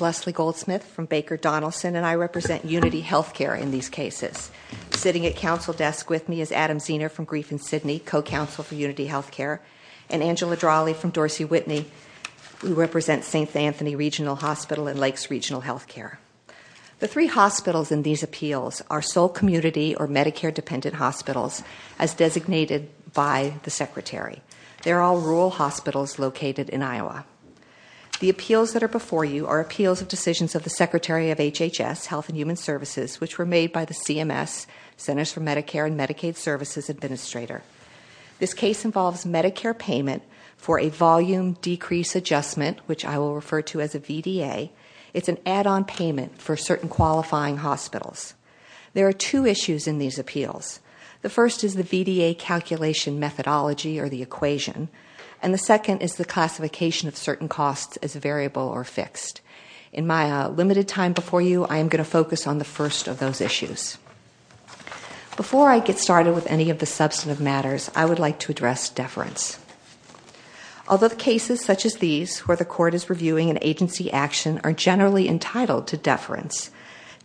Leslie Goldsmith Baker Donaldson UnityHealthCare Adam Zehner Co-Counsel for UnityHealthCare Angela Drawley Dorsey Whitney St. Anthony Regional Hospital Lakes RegionalHealthCare The three hospitals in these appeals are sole community or Medicare-dependent hospitals, as designated by the Secretary. They are all rural hospitals located in Iowa. The appeals that are before you are appeals of decisions of the Secretary of HHS, Health and Human Services, which were made by the CMS, Centers for Medicare and Medicaid Services Administrator. This case involves Medicare payment for a volume decrease adjustment, which I will refer to as a VDA. It's an add-on payment for certain qualifying hospitals. There are two issues in these appeals. The first is the VDA calculation methodology or the equation, and the second is the classification of certain costs as a variable or fixed. In my limited time before you, I am going to focus on the first of those issues. Before I get started with any of the substantive matters, I would like to address deference. Although cases such as these, where the court is reviewing an agency action, are generally entitled to deference,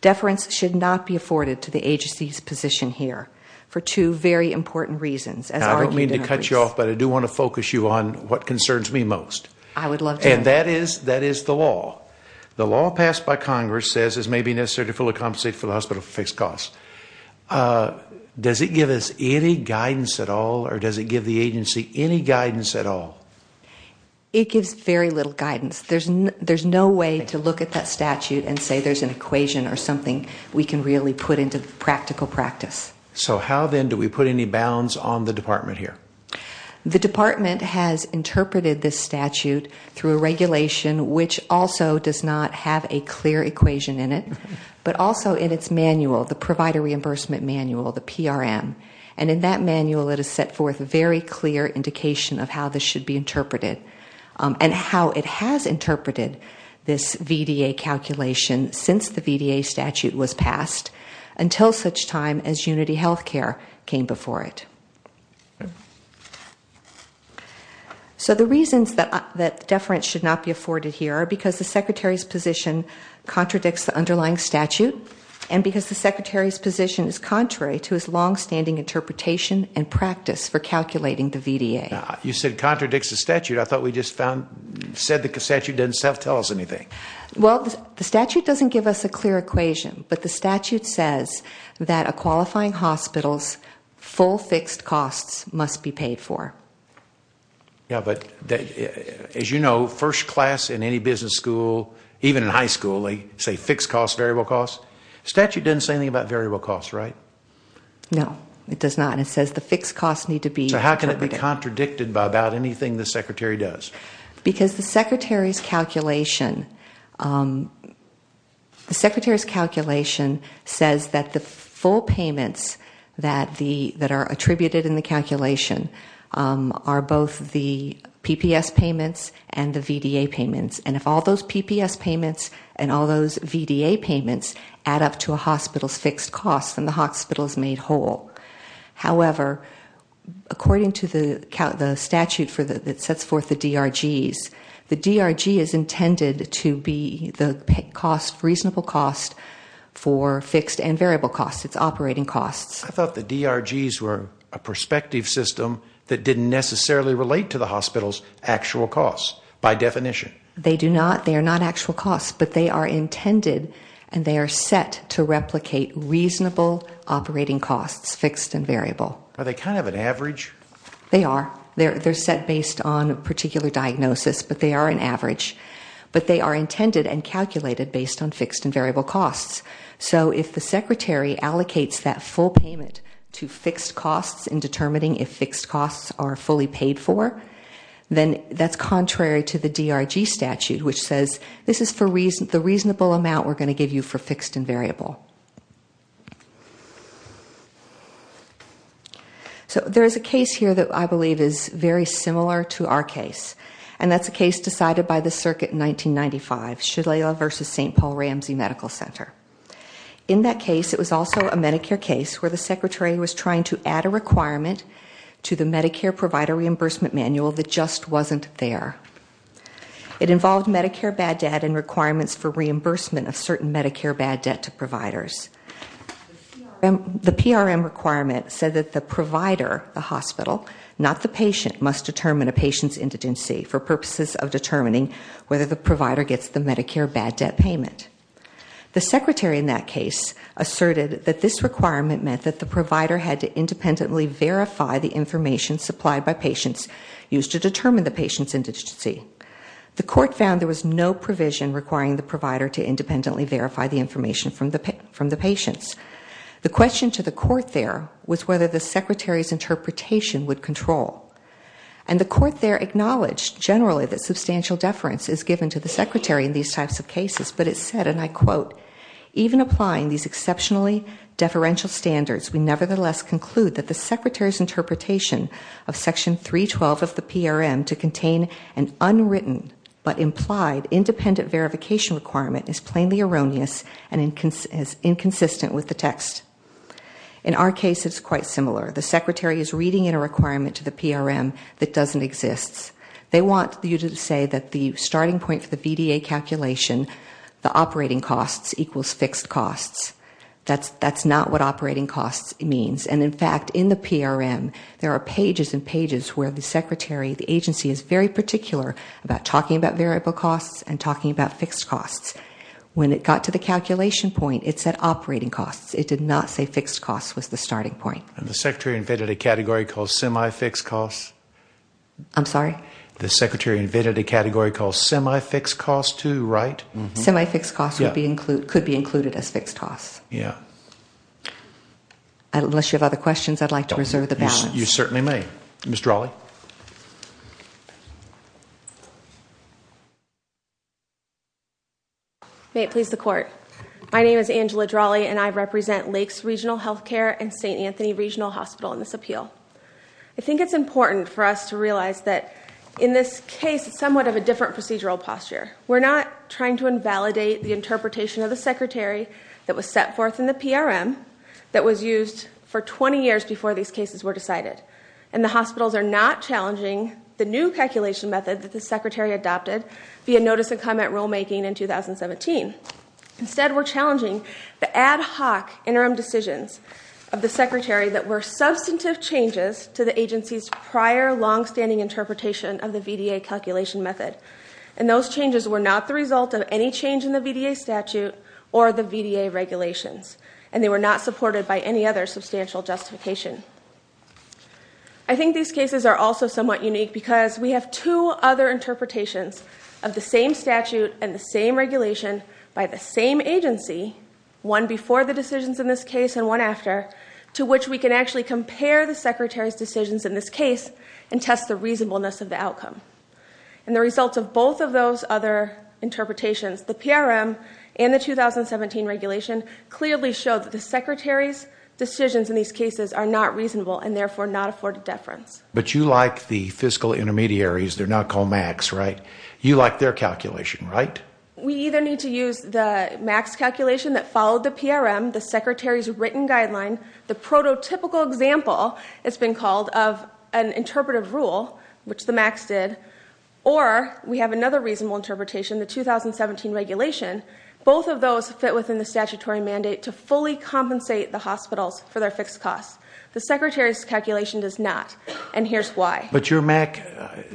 deference should not be afforded to the agency's position here for two very important reasons. I don't mean to cut you off, but I do want to focus you on what concerns me most. I would love to. And that is the law. The law passed by Congress says it may be necessary to fully compensate for the hospital fixed costs. Does it give us any guidance at all, or does it give the agency any guidance at all? It gives very little guidance. There's no way to look at that statute and say there's an equation or something we can really put into practical practice. So how, then, do we put any bounds on the department here? The department has interpreted this statute through a regulation, which also does not have a clear equation in it, but also in its manual, the Provider Reimbursement Manual, the PRM. And in that manual, it has set forth a very clear indication of how this should be interpreted and how it has interpreted this VDA calculation since the VDA statute was passed, until such time as Unity Healthcare came before it. So the reasons that deference should not be afforded here are because the secretary's position contradicts the underlying statute and because the secretary's position is contrary to his longstanding interpretation and practice for calculating the VDA. You said contradicts the statute. I thought we just said the statute didn't tell us anything. Well, the statute doesn't give us a clear equation, but the statute says that a qualifying hospital's full fixed costs must be paid for. Yeah, but as you know, first class in any business school, even in high school, they say fixed costs, variable costs. The statute doesn't say anything about variable costs, right? No, it does not, and it says the fixed costs need to be interpreted. So how can it be contradicted by about anything the secretary does? Because the secretary's calculation says that the full payments that are attributed in the calculation are both the PPS payments and the VDA payments, and if all those PPS payments and all those VDA payments add up to a hospital's fixed costs, then the hospital is made whole. However, according to the statute that sets forth the DRGs, the DRG is intended to be the cost, reasonable cost, for fixed and variable costs, its operating costs. I thought the DRGs were a perspective system that didn't necessarily relate to the hospital's actual costs by definition. They do not. They are not actual costs, but they are intended, and they are set to replicate reasonable operating costs, fixed and variable. Are they kind of an average? They are. They're set based on a particular diagnosis, but they are an average. But they are intended and calculated based on fixed and variable costs. So if the secretary allocates that full payment to fixed costs in determining if fixed costs are fully paid for, then that's contrary to the DRG statute, which says this is the reasonable amount we're going to give you for fixed and variable. So there is a case here that I believe is very similar to our case, and that's a case decided by the circuit in 1995, Shalala v. St. Paul Ramsey Medical Center. In that case, it was also a Medicare case where the secretary was trying to add a requirement to the Medicare provider reimbursement manual that just wasn't there. It involved Medicare bad debt and requirements for reimbursement of certain Medicare bad debt to providers. The PRM requirement said that the provider, the hospital, not the patient, must determine a patient's indigency for purposes of determining whether the provider gets the Medicare bad debt payment. The secretary in that case asserted that this requirement meant that the provider had to independently verify the information supplied by patients used to determine the patient's indigency. The court found there was no provision requiring the provider to independently verify the information from the patients. The question to the court there was whether the secretary's interpretation would control. And the court there acknowledged generally that substantial deference is given to the secretary in these types of cases, but it said, and I quote, even applying these exceptionally deferential standards, we nevertheless conclude that the secretary's interpretation of section 312 of the PRM to contain an unwritten but implied independent verification requirement is plainly erroneous and inconsistent with the text. In our case, it's quite similar. The secretary is reading in a requirement to the PRM that doesn't exist. They want you to say that the starting point for the VDA calculation, the operating costs equals fixed costs. That's not what operating costs means. And in fact, in the PRM, there are pages and pages where the secretary, the agency is very particular about talking about variable costs and talking about fixed costs. When it got to the calculation point, it said operating costs. It did not say fixed costs was the starting point. And the secretary invented a category called semi-fixed costs? I'm sorry? The secretary invented a category called semi-fixed costs too, right? Semi-fixed costs could be included as fixed costs. Yeah. Unless you have other questions, I'd like to reserve the balance. You certainly may. Ms. Drawley? Yes, ma'am. May it please the court. My name is Angela Drawley, and I represent Lakes Regional Healthcare and St. Anthony Regional Hospital in this appeal. I think it's important for us to realize that in this case, it's somewhat of a different procedural posture. We're not trying to invalidate the interpretation of the secretary that was set forth in the PRM that was used for 20 years before these cases were decided. And the hospitals are not challenging the new calculation method that the secretary adopted via notice and comment rulemaking in 2017. Instead, we're challenging the ad hoc interim decisions of the secretary that were substantive changes to the agency's prior longstanding interpretation of the VDA calculation method. And those changes were not the result of any change in the VDA statute or the VDA regulations, and they were not supported by any other substantial justification. I think these cases are also somewhat unique because we have two other interpretations of the same statute and the same regulation by the same agency, one before the decisions in this case and one after, to which we can actually compare the secretary's decisions in this case and test the reasonableness of the outcome. And the results of both of those other interpretations, the PRM and the 2017 regulation, clearly show that the secretary's decisions in these cases are not reasonable and therefore not afforded deference. But you like the fiscal intermediaries. They're not called MACs, right? You like their calculation, right? We either need to use the MACs calculation that followed the PRM, the secretary's written guideline, the prototypical example, it's been called, of an interpretive rule, which the MACs did, or we have another reasonable interpretation, the 2017 regulation. Both of those fit within the statutory mandate to fully compensate the hospitals for their fixed costs. The secretary's calculation does not, and here's why. But your MAC,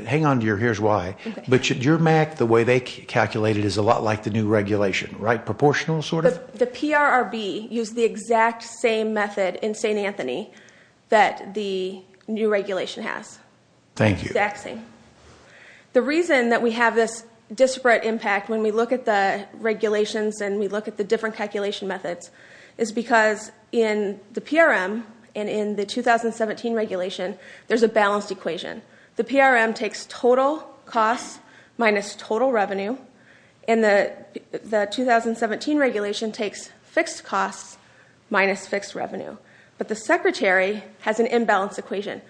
hang on to your here's why, but your MAC, the way they calculate it, is a lot like the new regulation, right? Proportional sort of? The PRRB used the exact same method in St. Anthony that the new regulation has. The reason that we have this disparate impact when we look at the regulations and we look at the different calculation methods is because in the PRM and in the 2017 regulation, there's a balanced equation. The PRM takes total costs minus total revenue, and the 2017 regulation takes fixed costs minus fixed revenue. But the secretary has an imbalanced equation.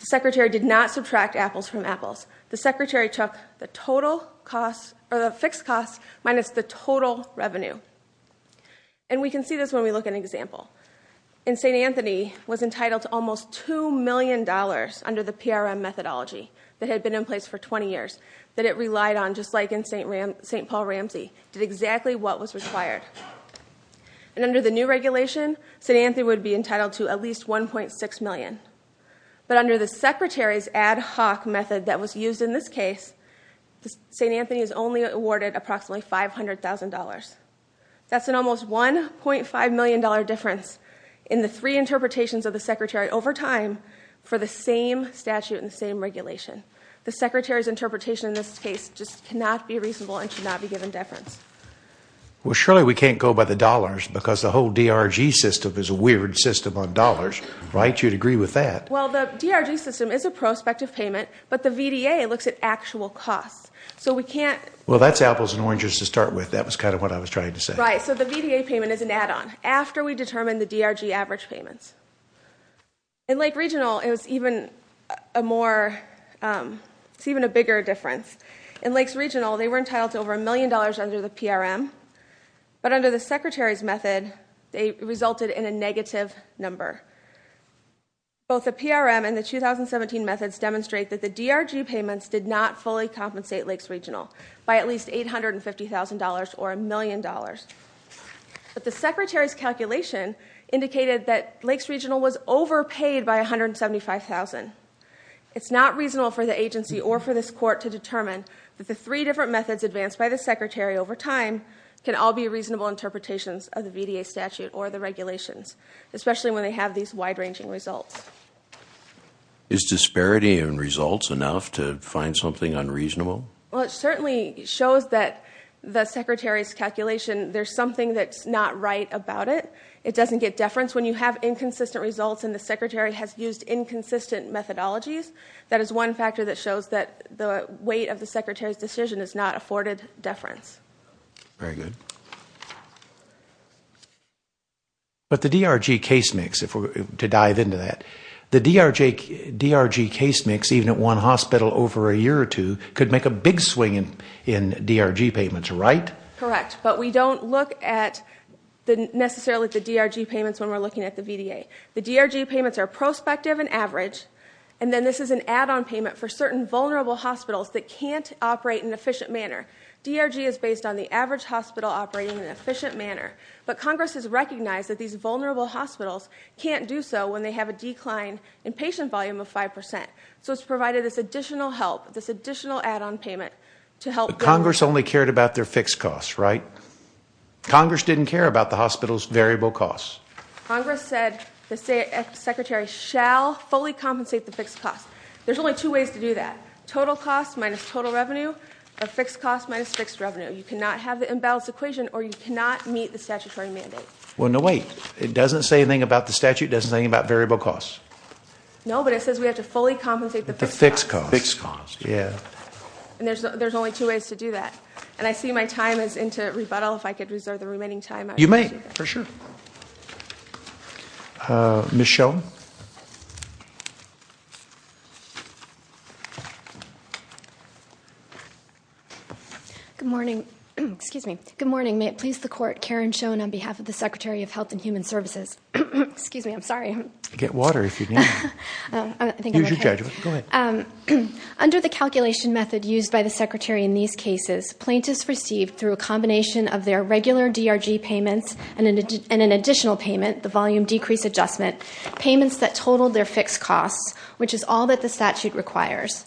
The secretary did not subtract apples from apples. The secretary took the fixed costs minus the total revenue. And we can see this when we look at an example. In St. Anthony, it was entitled to almost $2 million under the PRM methodology that had been in place for 20 years, that it relied on, just like in St. Paul Ramsey, did exactly what was required. And under the new regulation, St. Anthony would be entitled to at least $1.6 million. But under the secretary's ad hoc method that was used in this case, St. Anthony is only awarded approximately $500,000. That's an almost $1.5 million difference in the three interpretations of the secretary over time for the same statute and the same regulation. The secretary's interpretation in this case just cannot be reasonable and should not be given deference. Well, surely we can't go by the dollars because the whole DRG system is a weird system on dollars, right? You'd agree with that. Well, the DRG system is a prospective payment, but the VDA looks at actual costs. Well, that's apples and oranges to start with. That was kind of what I was trying to say. Right, so the VDA payment is an add-on after we determine the DRG average payments. In Lake Regional, it's even a bigger difference. In Lake Regional, they were entitled to over $1 million under the PRM, but under the secretary's method, they resulted in a negative number. Both the PRM and the 2017 methods demonstrate that the DRG payments did not fully compensate Lake Regional by at least $850,000 or $1 million. But the secretary's calculation indicated that Lake Regional was overpaid by $175,000. It's not reasonable for the agency or for this court to determine that the three different methods advanced by the secretary over time can all be reasonable interpretations of the VDA statute or the regulations, especially when they have these wide-ranging results. Is disparity in results enough to find something unreasonable? Well, it certainly shows that the secretary's calculation, there's something that's not right about it. It doesn't get deference when you have inconsistent results and the secretary has used inconsistent methodologies. That is one factor that shows that the weight of the secretary's decision is not afforded deference. Very good. But the DRG case mix, to dive into that, the DRG case mix, even at one hospital over a year or two, could make a big swing in DRG payments, right? Correct, but we don't look necessarily at the DRG payments when we're looking at the VDA. The DRG payments are prospective and average, and then this is an add-on payment for certain vulnerable hospitals that can't operate in an efficient manner. DRG is based on the average hospital operating in an efficient manner, but Congress has recognized that these vulnerable hospitals can't do so when they have a decline in patient volume of 5%, so it's provided this additional help, this additional add-on payment to help. But Congress only cared about their fixed costs, right? Congress didn't care about the hospital's variable costs. Congress said the secretary shall fully compensate the fixed costs. There's only two ways to do that. Total costs minus total revenue, or fixed costs minus fixed revenue. You cannot have the imbalanced equation, or you cannot meet the statutory mandate. Well, no, wait, it doesn't say anything about the statute, it doesn't say anything about variable costs. No, but it says we have to fully compensate the fixed costs. The fixed costs, yeah. And there's only two ways to do that. And I see my time is into rebuttal. If I could reserve the remaining time, I would do that. You may, for sure. Ms. Schoen. Good morning. Excuse me. Good morning. May it please the Court, Karen Schoen on behalf of the Secretary of Health and Human Services. Excuse me, I'm sorry. Get water if you need it. Here's your judgment. Go ahead. Under the calculation method used by the secretary in these cases, plaintiffs received through a combination of their regular DRG payments and an additional payment, the volume decrease adjustment, payments that totaled their fixed costs, which is all that the statute requires.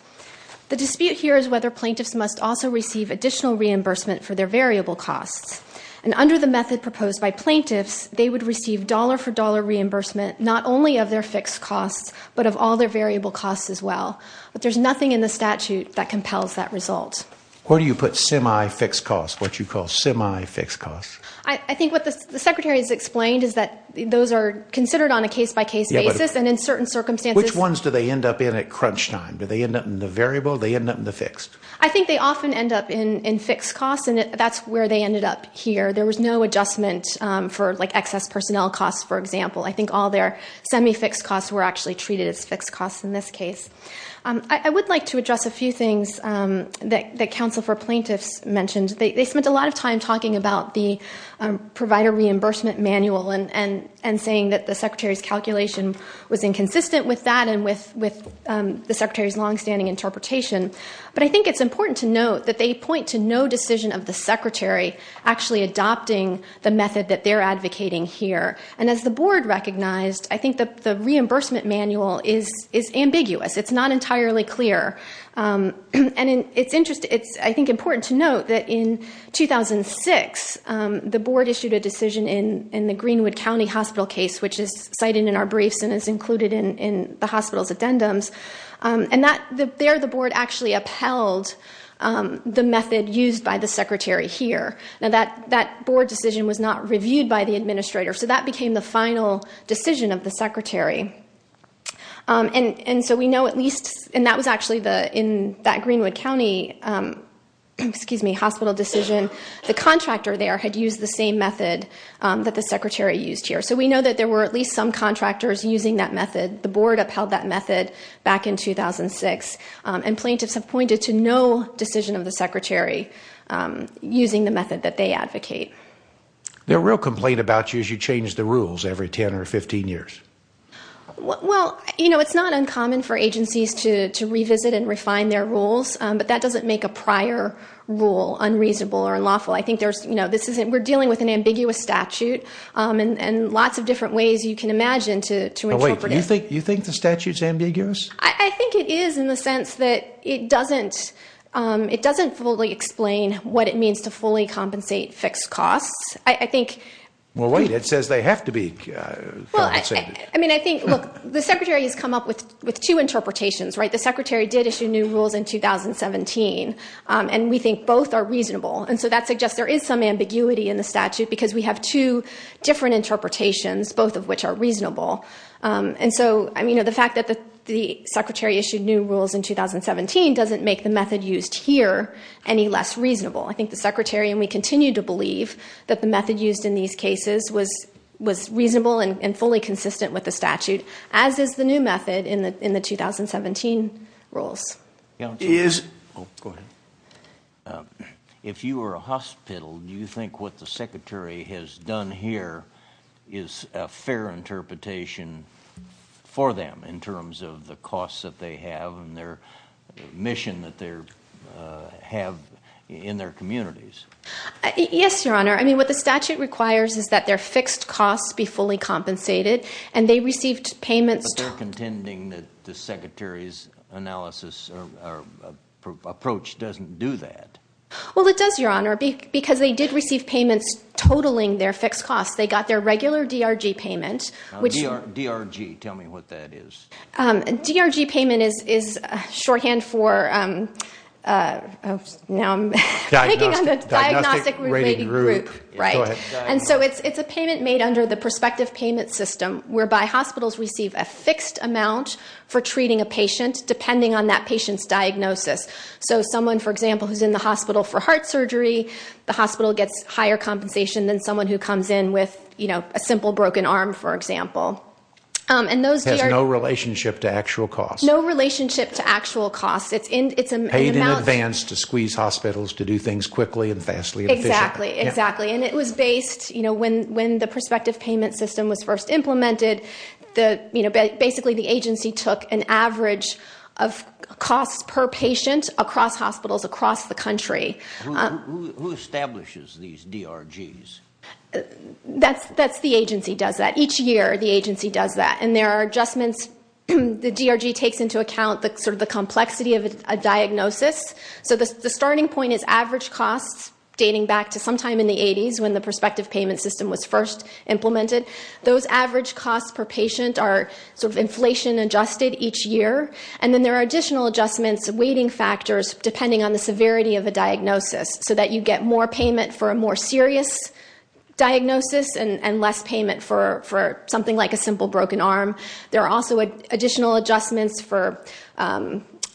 The dispute here is whether plaintiffs must also receive additional reimbursement for their variable costs. And under the method proposed by plaintiffs, they would receive dollar-for-dollar reimbursement not only of their fixed costs but of all their variable costs as well. But there's nothing in the statute that compels that result. Where do you put semi-fixed costs, what you call semi-fixed costs? I think what the secretary has explained is that those are considered on a case-by-case basis and in certain circumstances. Which ones do they end up in at crunch time? Do they end up in the variable or do they end up in the fixed? I think they often end up in fixed costs, and that's where they ended up here. There was no adjustment for, like, excess personnel costs, for example. I think all their semi-fixed costs were actually treated as fixed costs in this case. I would like to address a few things that counsel for plaintiffs mentioned. They spent a lot of time talking about the provider reimbursement manual and saying that the secretary's calculation was inconsistent with that and with the secretary's longstanding interpretation. But I think it's important to note that they point to no decision of the secretary actually adopting the method that they're advocating here. And as the board recognized, I think the reimbursement manual is ambiguous. It's not entirely clear. And it's, I think, important to note that in 2006, the board issued a decision in the Greenwood County hospital case, which is cited in our briefs and is included in the hospital's addendums, and there the board actually upheld the method used by the secretary here. Now, that board decision was not reviewed by the administrator, so that became the final decision of the secretary. And so we know at least, and that was actually in that Greenwood County hospital decision, the contractor there had used the same method that the secretary used here. So we know that there were at least some contractors using that method. The board upheld that method back in 2006, and plaintiffs have pointed to no decision of the secretary using the method that they advocate. The real complaint about you is you change the rules every 10 or 15 years. Well, it's not uncommon for agencies to revisit and refine their rules, but that doesn't make a prior rule unreasonable or unlawful. We're dealing with an ambiguous statute and lots of different ways you can imagine to interpret it. Wait, you think the statute's ambiguous? I think it is in the sense that it doesn't fully explain what it means to fully compensate fixed costs. Well, wait, it says they have to be compensated. Look, the secretary has come up with two interpretations. The secretary did issue new rules in 2017, and we think both are reasonable. And so that suggests there is some ambiguity in the statute because we have two different interpretations, both of which are reasonable. And so the fact that the secretary issued new rules in 2017 doesn't make the method used here any less reasonable. I think the secretary, and we continue to believe, that the method used in these cases was reasonable and fully consistent with the statute, as is the new method in the 2017 rules. Go ahead. If you were a hospital, do you think what the secretary has done here is a fair interpretation for them in terms of the costs that they have and their mission that they have in their communities? Yes, Your Honor. I mean, what the statute requires is that their fixed costs be fully compensated, and they received payments... But they're contending that the secretary's analysis or approach doesn't do that. Well, it does, Your Honor, because they did receive payments totaling their fixed costs. They got their regular DRG payment, which... DRG. Tell me what that is. DRG payment is shorthand for... Now I'm picking on the diagnostic-related group. Go ahead. And so it's a payment made under the prospective payment system whereby hospitals receive a fixed amount for treating a patient depending on that patient's diagnosis. So someone, for example, who's in the hospital for heart surgery, the hospital gets higher compensation than someone who comes in with a simple broken arm, for example. It has no relationship to actual costs. No relationship to actual costs. It's paid in advance to squeeze hospitals to do things quickly and vastly efficiently. Exactly, exactly. And it was based, you know, when the prospective payment system was first implemented, basically the agency took an average of costs per patient across hospitals across the country. Who establishes these DRGs? That's the agency does that. Each year the agency does that. And there are adjustments... The DRG takes into account sort of the complexity of a diagnosis. So the starting point is average costs dating back to sometime in the 80s when the prospective payment system was first implemented. Those average costs per patient are sort of inflation-adjusted each year. And then there are additional adjustments, weighting factors, depending on the severity of the diagnosis so that you get more payment for a more serious diagnosis and less payment for something like a simple broken arm. There are also additional adjustments for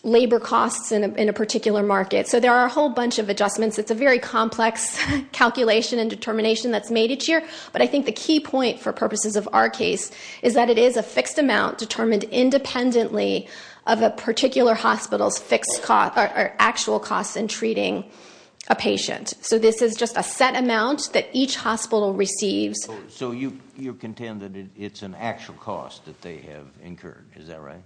labor costs in a particular market. So there are a whole bunch of adjustments. It's a very complex calculation and determination that's made each year. But I think the key point for purposes of our case is that it is a fixed amount determined independently of a particular hospital's actual costs in treating a patient. So this is just a set amount that each hospital receives. So you contend that it's an actual cost that they have incurred. Is that right?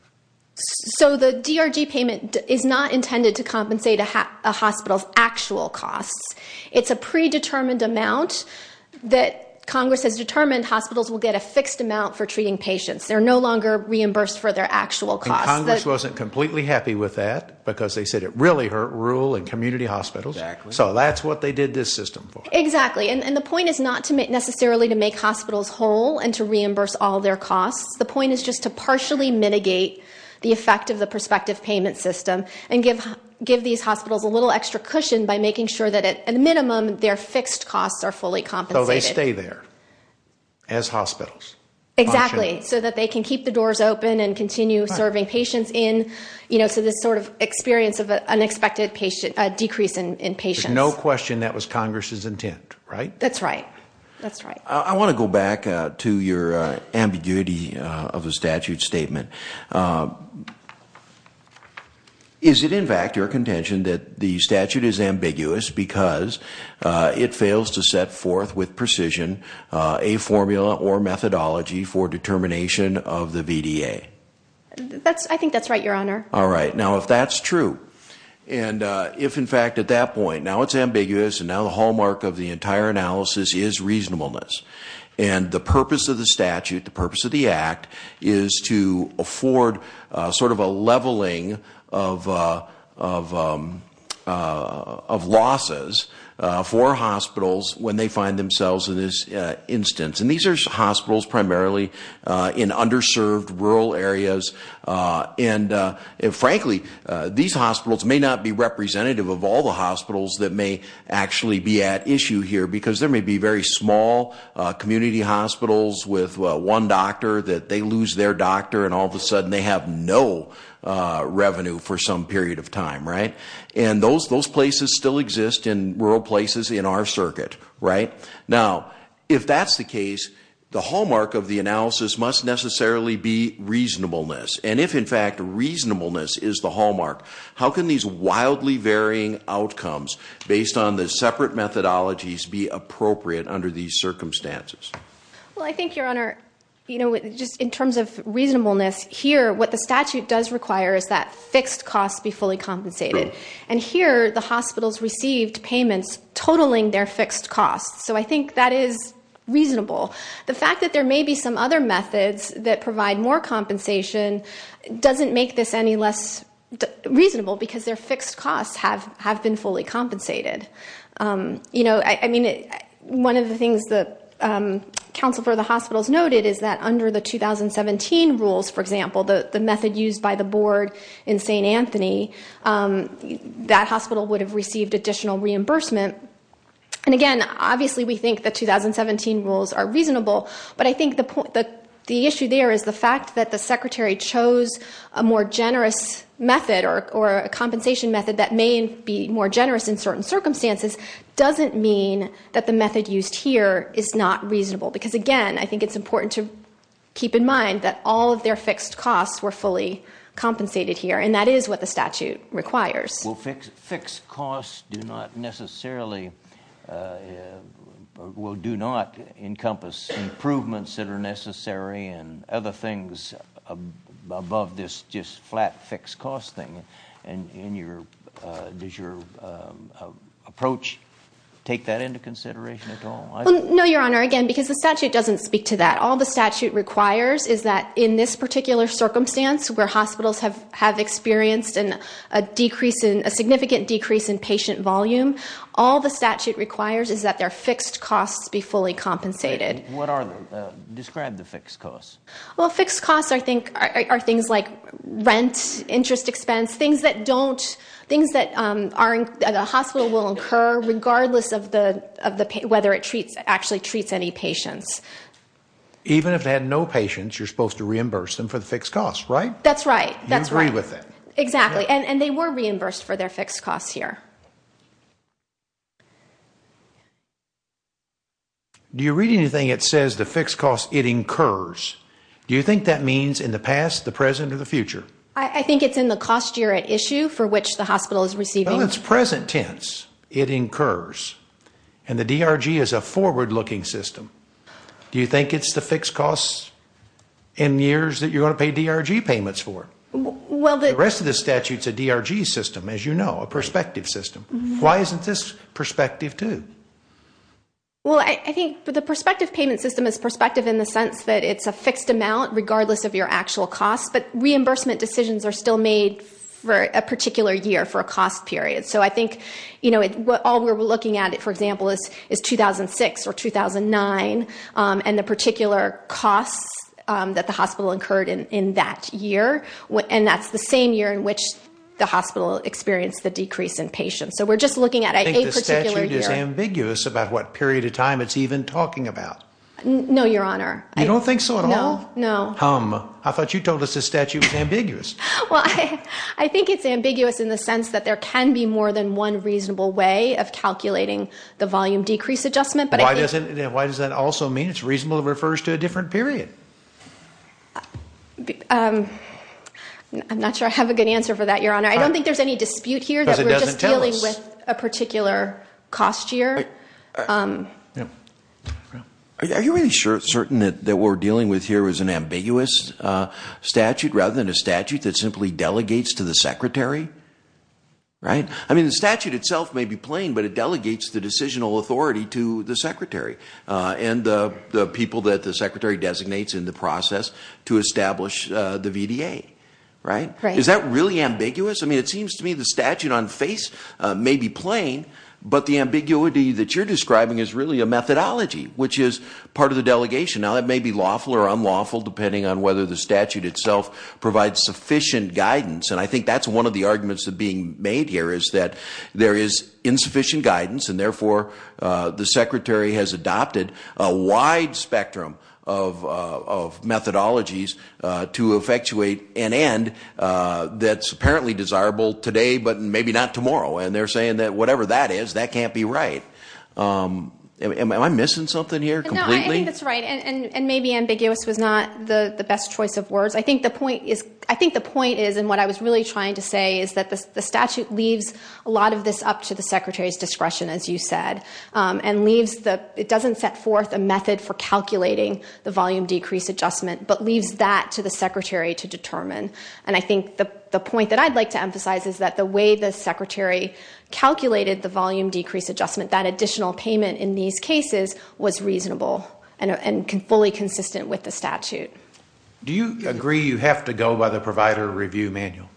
So the DRG payment is not intended to compensate a hospital's actual costs. It's a predetermined amount that Congress has determined hospitals will get a fixed amount for treating patients. They're no longer reimbursed for their actual costs. Congress wasn't completely happy with that because they said it really hurt rural and community hospitals. So that's what they did this system for. Exactly. And the point is not necessarily to make hospitals whole and to reimburse all their costs. The point is just to partially mitigate the effect of the prospective payment system and give these hospitals a little extra cushion by making sure that at a minimum their fixed costs are fully compensated. So they stay there as hospitals. Exactly, so that they can keep the doors open and continue serving patients. So this sort of experience of an unexpected decrease in patients. There's no question that was Congress's intent, right? That's right. I want to go back to your ambiguity of the statute statement. Is it in fact your contention that the statute is ambiguous because it fails to set forth with precision a formula or methodology for determination of the VDA? I think that's right, Your Honor. All right, now if that's true. And if in fact at that point, now it's ambiguous and now the hallmark of the entire analysis is reasonableness. And the purpose of the statute, the purpose of the act, is to afford sort of a leveling of losses for hospitals when they find themselves in this instance. And these are hospitals primarily in underserved rural areas. And frankly, these hospitals may not be representative of all the hospitals that may actually be at issue here because there may be very small community hospitals with one doctor that they lose their doctor and all of a sudden they have no revenue for some period of time, right? And those places still exist in rural places in our circuit, right? Now, if that's the case, the hallmark of the analysis must necessarily be reasonableness. And if in fact reasonableness is the hallmark, how can these wildly varying outcomes based on the separate methodologies be appropriate under these circumstances? Well, I think, Your Honor, just in terms of reasonableness, here what the statute does require is that fixed costs be fully compensated. And here the hospitals received payments totaling their fixed costs. So I think that is reasonable. The fact that there may be some other methods that provide more compensation doesn't make this any less reasonable because their fixed costs have been fully compensated. You know, I mean, one of the things that counsel for the hospitals noted is that under the 2017 rules, for example, the method used by the board in St. Anthony, that hospital would have received additional reimbursement. And again, obviously we think the 2017 rules are reasonable, but I think the issue there is the fact that the secretary chose a more generous method or a compensation method that may be more generous in certain circumstances doesn't mean that the method used here is not reasonable. Because again, I think it's important to keep in mind that all of their fixed costs were fully compensated here, and that is what the statute requires. Well, fixed costs do not necessarily, well, do not encompass improvements that are necessary and other things above this just flat fixed cost thing. And does your approach take that into consideration at all? No, Your Honor, again, because the statute doesn't speak to that. All the statute requires is that in this particular circumstance where hospitals have experienced a significant decrease in patient volume, all the statute requires is that their fixed costs be fully compensated. Describe the fixed costs. Well, fixed costs are things like rent, interest expense, things that the hospital will incur regardless of whether it actually treats any patients. Even if it had no patients, you're supposed to reimburse them for the fixed costs, right? That's right. You agree with that. Exactly. And they were reimbursed for their fixed costs here. Do you read anything that says the fixed costs it incurs? Do you think that means in the past, the present, or the future? I think it's in the cost year at issue for which the hospital is receiving. Well, it's present tense. It incurs. And the DRG is a forward-looking system. Do you think it's the fixed costs in years that you're going to pay DRG payments for? The rest of the statute is a DRG system, as you know, a perspective system. Why isn't this perspective too? Well, I think the perspective payment system is perspective in the sense that it's a fixed amount regardless of your actual costs, but reimbursement decisions are still made for a particular year for a cost period. So I think all we're looking at, for example, is 2006 or 2009 and the particular costs that the hospital incurred in that year, and that's the same year in which the hospital experienced the decrease in patients. So we're just looking at a particular year. I think the statute is ambiguous about what period of time it's even talking about. No, Your Honor. You don't think so at all? No. I thought you told us the statute was ambiguous. Well, I think it's ambiguous in the sense that there can be more than one reasonable way of calculating the volume decrease adjustment. Why does that also mean it's reasonable? It refers to a different period. I'm not sure I have a good answer for that, Your Honor. I don't think there's any dispute here that we're just dealing with a particular cost year. Are you really certain that what we're dealing with here is an ambiguous statute rather than a statute that simply delegates to the secretary? I mean, the statute itself may be plain, but it delegates the decisional authority to the secretary and the people that the secretary designates in the process to establish the VDA. Is that really ambiguous? I mean, it seems to me the statute on face may be plain, but the ambiguity that you're describing is really a methodology, which is part of the delegation. Now, that may be lawful or unlawful, depending on whether the statute itself provides sufficient guidance, and I think that's one of the arguments being made here, is that there is insufficient guidance, and therefore the secretary has adopted a wide spectrum of methodologies to effectuate an end that's apparently desirable today but maybe not tomorrow, and they're saying that whatever that is, that can't be right. Am I missing something here completely? No, I think that's right, and maybe ambiguous was not the best choice of words. I think the point is, and what I was really trying to say, is that the statute leaves a lot of this up to the secretary's discretion, as you said, and it doesn't set forth a method for calculating the volume decrease adjustment but leaves that to the secretary to determine, and I think the point that I'd like to emphasize is that the way the secretary calculated the volume decrease adjustment, that additional payment in these cases was reasonable and fully consistent with the statute. Do you agree you have to go by the provider review manual?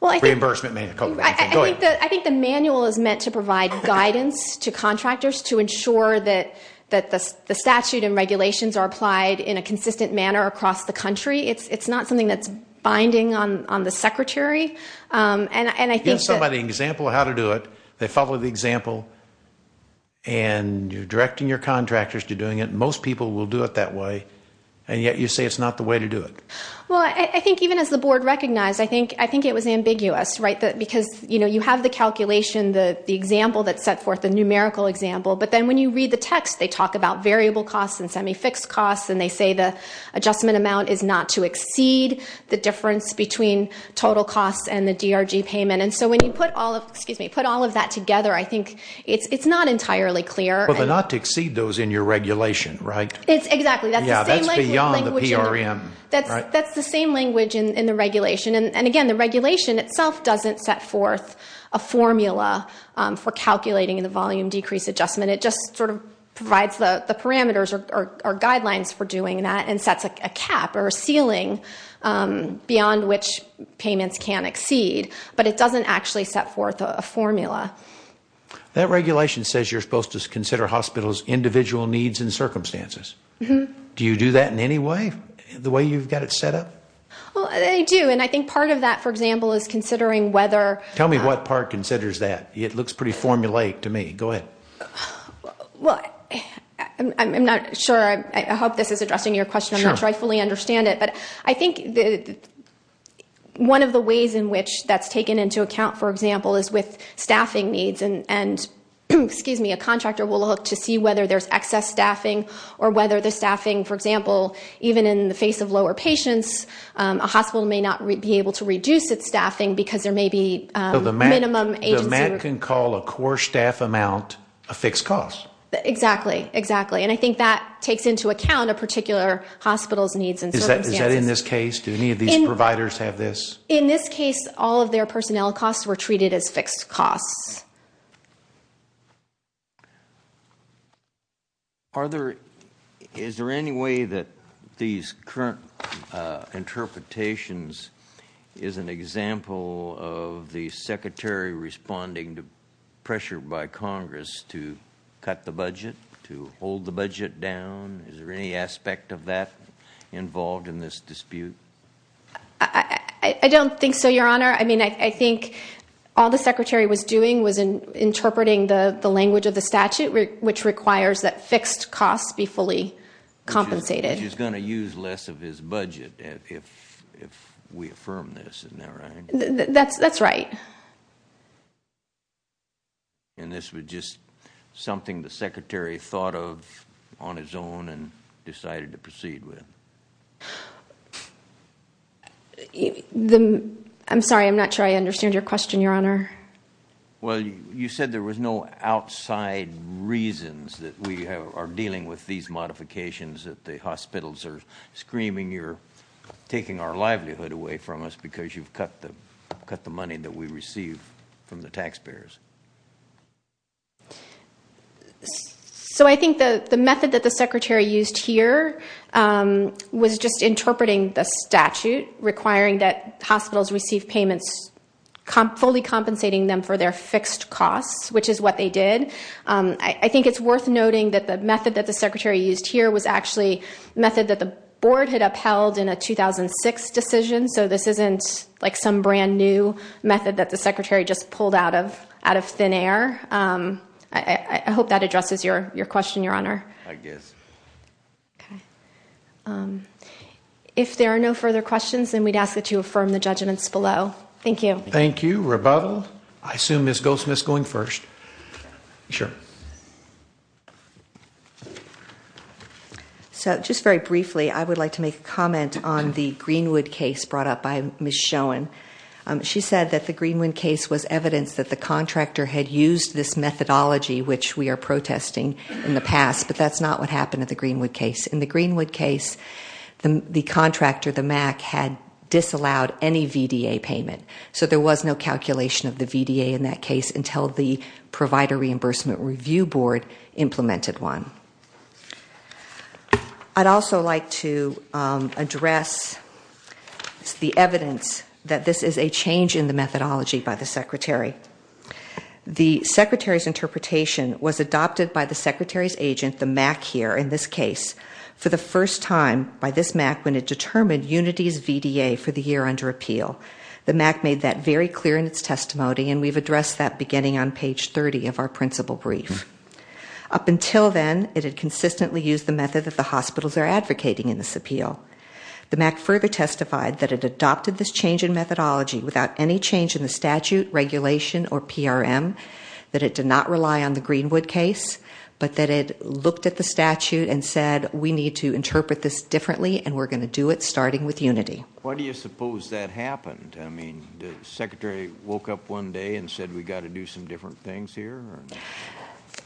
Reimbursement manual. I think the manual is meant to provide guidance to contractors to ensure that the statute and regulations are applied in a consistent manner across the country. It's not something that's binding on the secretary. You give somebody an example of how to do it. They follow the example, and you're directing your contractors to doing it. Most people will do it that way, and yet you say it's not the way to do it. Well, I think even as the board recognized, I think it was ambiguous because you have the calculation, the example that's set forth, the numerical example, but then when you read the text, they talk about variable costs and semi-fixed costs, and they say the adjustment amount is not to exceed the difference between total costs and the DRG payment, and so when you put all of that together, I think it's not entirely clear. But not to exceed those in your regulation, right? Exactly. Yeah, that's beyond the PRM. That's the same language in the regulation, and again, the regulation itself doesn't set forth a formula for calculating the volume decrease adjustment. It just sort of provides the parameters or guidelines for doing that and sets a cap or a ceiling beyond which payments can exceed, but it doesn't actually set forth a formula. That regulation says you're supposed to consider hospitals' individual needs and circumstances. Do you do that in any way, the way you've got it set up? Well, I do, and I think part of that, for example, is considering whether... Tell me what part considers that. It looks pretty formulaic to me. Go ahead. Well, I'm not sure. I hope this is addressing your question. I'm not sure I fully understand it, but I think one of the ways in which that's taken into account, for example, is with staffing needs, and a contractor will look to see whether there's excess staffing or whether the staffing, for example, even in the face of lower patients, a hospital may not be able to reduce its staffing because there may be minimum agency requirements. I can call a core staff amount a fixed cost. Exactly, exactly, and I think that takes into account a particular hospital's needs and circumstances. Is that in this case? Do any of these providers have this? In this case, all of their personnel costs were treated as fixed costs. Is there any way that these current interpretations is an example of the secretary responding to pressure by Congress to cut the budget, to hold the budget down? Is there any aspect of that involved in this dispute? I don't think so, Your Honor. I mean, I think all the secretary was doing was interpreting the language of the statute, which requires that fixed costs be fully compensated. Which is going to use less of his budget if we affirm this, isn't that right? That's right. And this was just something the secretary thought of on his own and decided to proceed with? I'm sorry, I'm not sure I understand your question, Your Honor. Well, you said there was no outside reasons that we are dealing with these modifications, that the hospitals are screaming you're taking our livelihood away from us because you've cut the money that we receive from the taxpayers. So I think the method that the secretary used here was just interpreting the statute, requiring that hospitals receive payments, fully compensating them for their fixed costs, which is what they did. I think it's worth noting that the method that the secretary used here was actually a method that the board had upheld in a 2006 decision, so this isn't like some brand-new method that the secretary just pulled out of Congress. Out of thin air. I hope that addresses your question, Your Honor. I guess. If there are no further questions, then we'd ask that you affirm the judgments below. Thank you. Thank you. Rebuttal? I assume Ms. Goldsmith is going first. Sure. So just very briefly, I would like to make a comment on the Greenwood case brought up by Ms. Schoen. She said that the Greenwood case was evidence that the contractor had used this methodology, which we are protesting in the past, but that's not what happened at the Greenwood case. In the Greenwood case, the contractor, the MAC, had disallowed any VDA payment, so there was no calculation of the VDA in that case until the Provider Reimbursement Review Board implemented one. I'd also like to address the evidence that this is a change in the methodology by the secretary. The secretary's interpretation was adopted by the secretary's agent, the MAC here in this case, for the first time by this MAC when it determined Unity's VDA for the year under appeal. The MAC made that very clear in its testimony, and we've addressed that beginning on page 30 of our principal brief. Up until then, it had consistently used the method that the hospitals are advocating in this appeal. The MAC further testified that it adopted this change in methodology without any change in the statute, regulation, or PRM, that it did not rely on the Greenwood case, but that it looked at the statute and said, we need to interpret this differently, and we're going to do it starting with Unity. Why do you suppose that happened? The secretary woke up one day and said, we've got to do some different things here?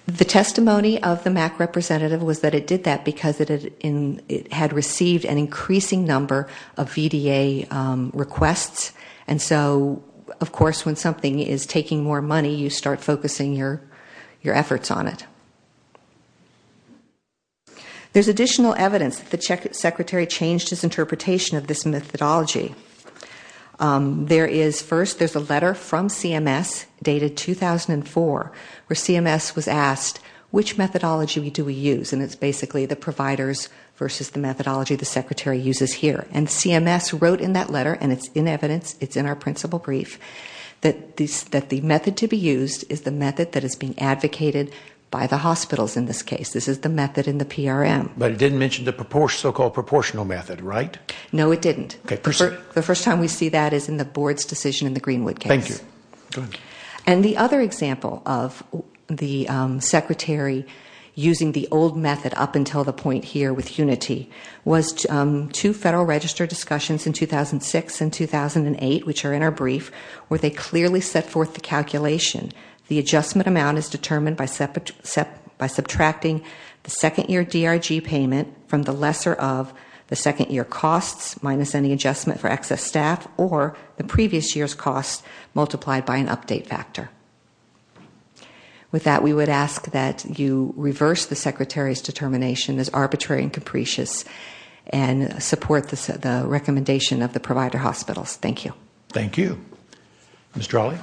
The testimony of the MAC representative was that it did that because it had received an increasing number of VDA requests, and so, of course, when something is taking more money, you start focusing your efforts on it. There's additional evidence that the secretary changed his interpretation of this methodology. First, there's a letter from CMS dated 2004 where CMS was asked, which methodology do we use? And it's basically the providers versus the methodology the secretary uses here. And CMS wrote in that letter, and it's in evidence, it's in our principal brief, that the method to be used is the method that is being advocated by the hospitals in this case. This is the method in the PRM. But it didn't mention the so-called proportional method, right? No, it didn't. The first time we see that is in the board's decision in the Greenwood case. Thank you. Go ahead. And the other example of the secretary using the old method up until the point here with Unity was two Federal Register discussions in 2006 and 2008, which are in our brief, where they clearly set forth the calculation. The adjustment amount is determined by subtracting the second-year DRG payment from the lesser of the second-year costs minus any adjustment for excess staff or the previous year's cost multiplied by an update factor. With that, we would ask that you reverse the secretary's determination as arbitrary and capricious and support the recommendation of the provider hospitals. Thank you. Thank you. Ms. Trawley.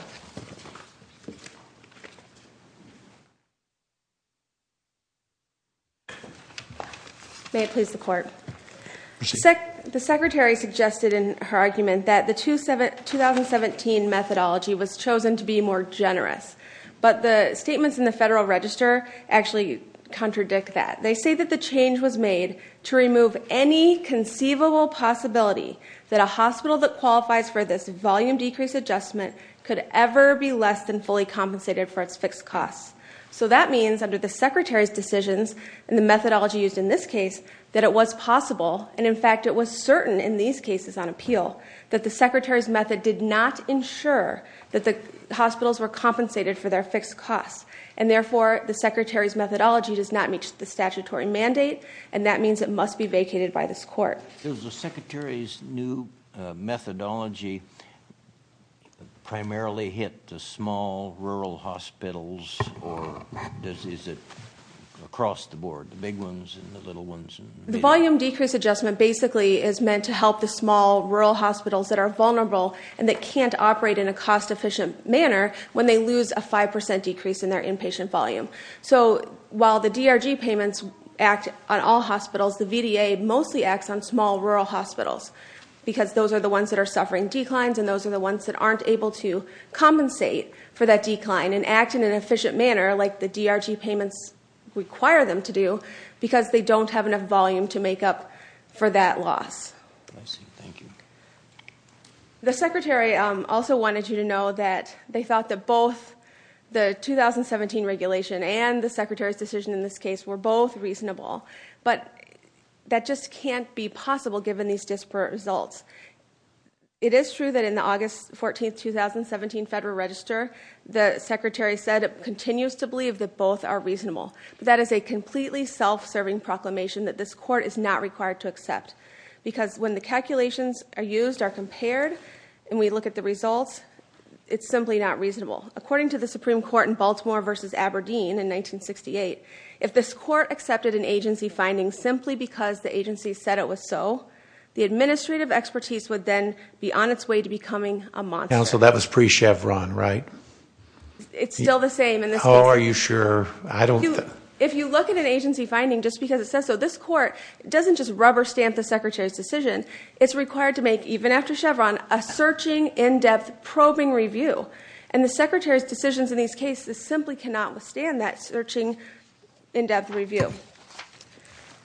May it please the Court. Proceed. The secretary suggested in her argument that the 2017 methodology was chosen to be more generous, but the statements in the Federal Register actually contradict that. They say that the change was made to remove any conceivable possibility that a hospital that qualifies for this volume decrease adjustment could ever be less than fully compensated for its fixed costs. So that means, under the secretary's decisions and the methodology used in this case, that it was possible, and in fact it was certain in these cases on appeal, that the secretary's method did not ensure that the hospitals were compensated for their fixed costs, and therefore the secretary's methodology does not meet the statutory mandate, and that means it must be vacated by this Court. Does the secretary's new methodology primarily hit the small rural hospitals, or is it across the board, the big ones and the little ones? The volume decrease adjustment basically is meant to help the small rural hospitals that are vulnerable and that can't operate in a cost-efficient manner when they lose a 5% decrease in their inpatient volume. So while the DRG payments act on all hospitals, the VDA mostly acts on small rural hospitals because those are the ones that are suffering declines and those are the ones that aren't able to compensate for that decline and act in an efficient manner like the DRG payments require them to do because they don't have enough volume to make up for that loss. I see. Thank you. The secretary also wanted you to know that they thought that both the 2017 regulation and the secretary's decision in this case were both reasonable, but that just can't be possible given these disparate results. It is true that in the August 14, 2017 Federal Register, the secretary said it continues to believe that both are reasonable. That is a completely self-serving proclamation that this Court is not required to accept because when the calculations are used, are compared, and we look at the results, it's simply not reasonable. According to the Supreme Court in Baltimore v. Aberdeen in 1968, if this Court accepted an agency finding simply because the agency said it was so, the administrative expertise would then be on its way to becoming a monster. So that was pre-Chevron, right? It's still the same. How are you sure? If you look at an agency finding just because it says so, this Court doesn't just rubber stamp the secretary's decision. It's required to make, even after Chevron, a searching, in-depth, probing review. And the secretary's decisions in these cases simply cannot withstand that searching, in-depth review.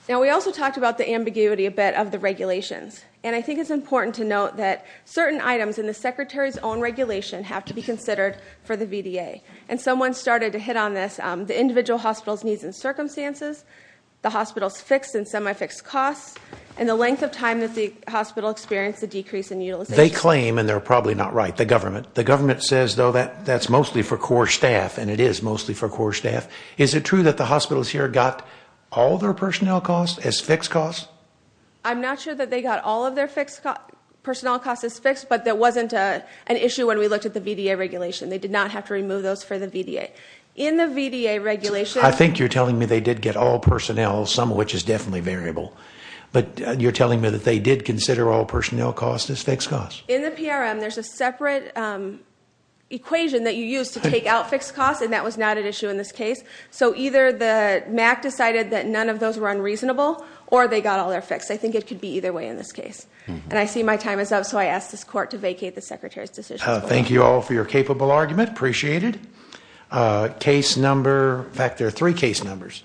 Now, we also talked about the ambiguity a bit of the regulations. And I think it's important to note that certain items in the secretary's own regulation have to be considered for the VDA. And someone started to hit on this, the individual hospital's needs and circumstances, the hospital's fixed and semi-fixed costs, and the length of time that the hospital experienced a decrease in utilization. They claim, and they're probably not right, the government. The government says, though, that's mostly for core staff, and it is mostly for core staff. Is it true that the hospitals here got all their personnel costs as fixed costs? I'm not sure that they got all of their personnel costs as fixed, but that wasn't an issue when we looked at the VDA regulation. They did not have to remove those for the VDA. In the VDA regulation – I think you're telling me they did get all personnel, some of which is definitely variable. But you're telling me that they did consider all personnel costs as fixed costs. In the PRM, there's a separate equation that you use to take out fixed costs, and that was not an issue in this case. So either the MAC decided that none of those were unreasonable, or they got all their fixed. I think it could be either way in this case. And I see my time is up, so I ask this court to vacate the secretary's decision. Thank you all for your capable argument. Appreciate it. Case number – in fact, there are three case numbers.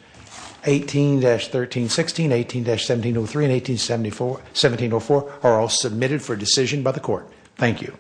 18-1316, 18-1703, and 18-1704 are all submitted for decision by the court. Thank you.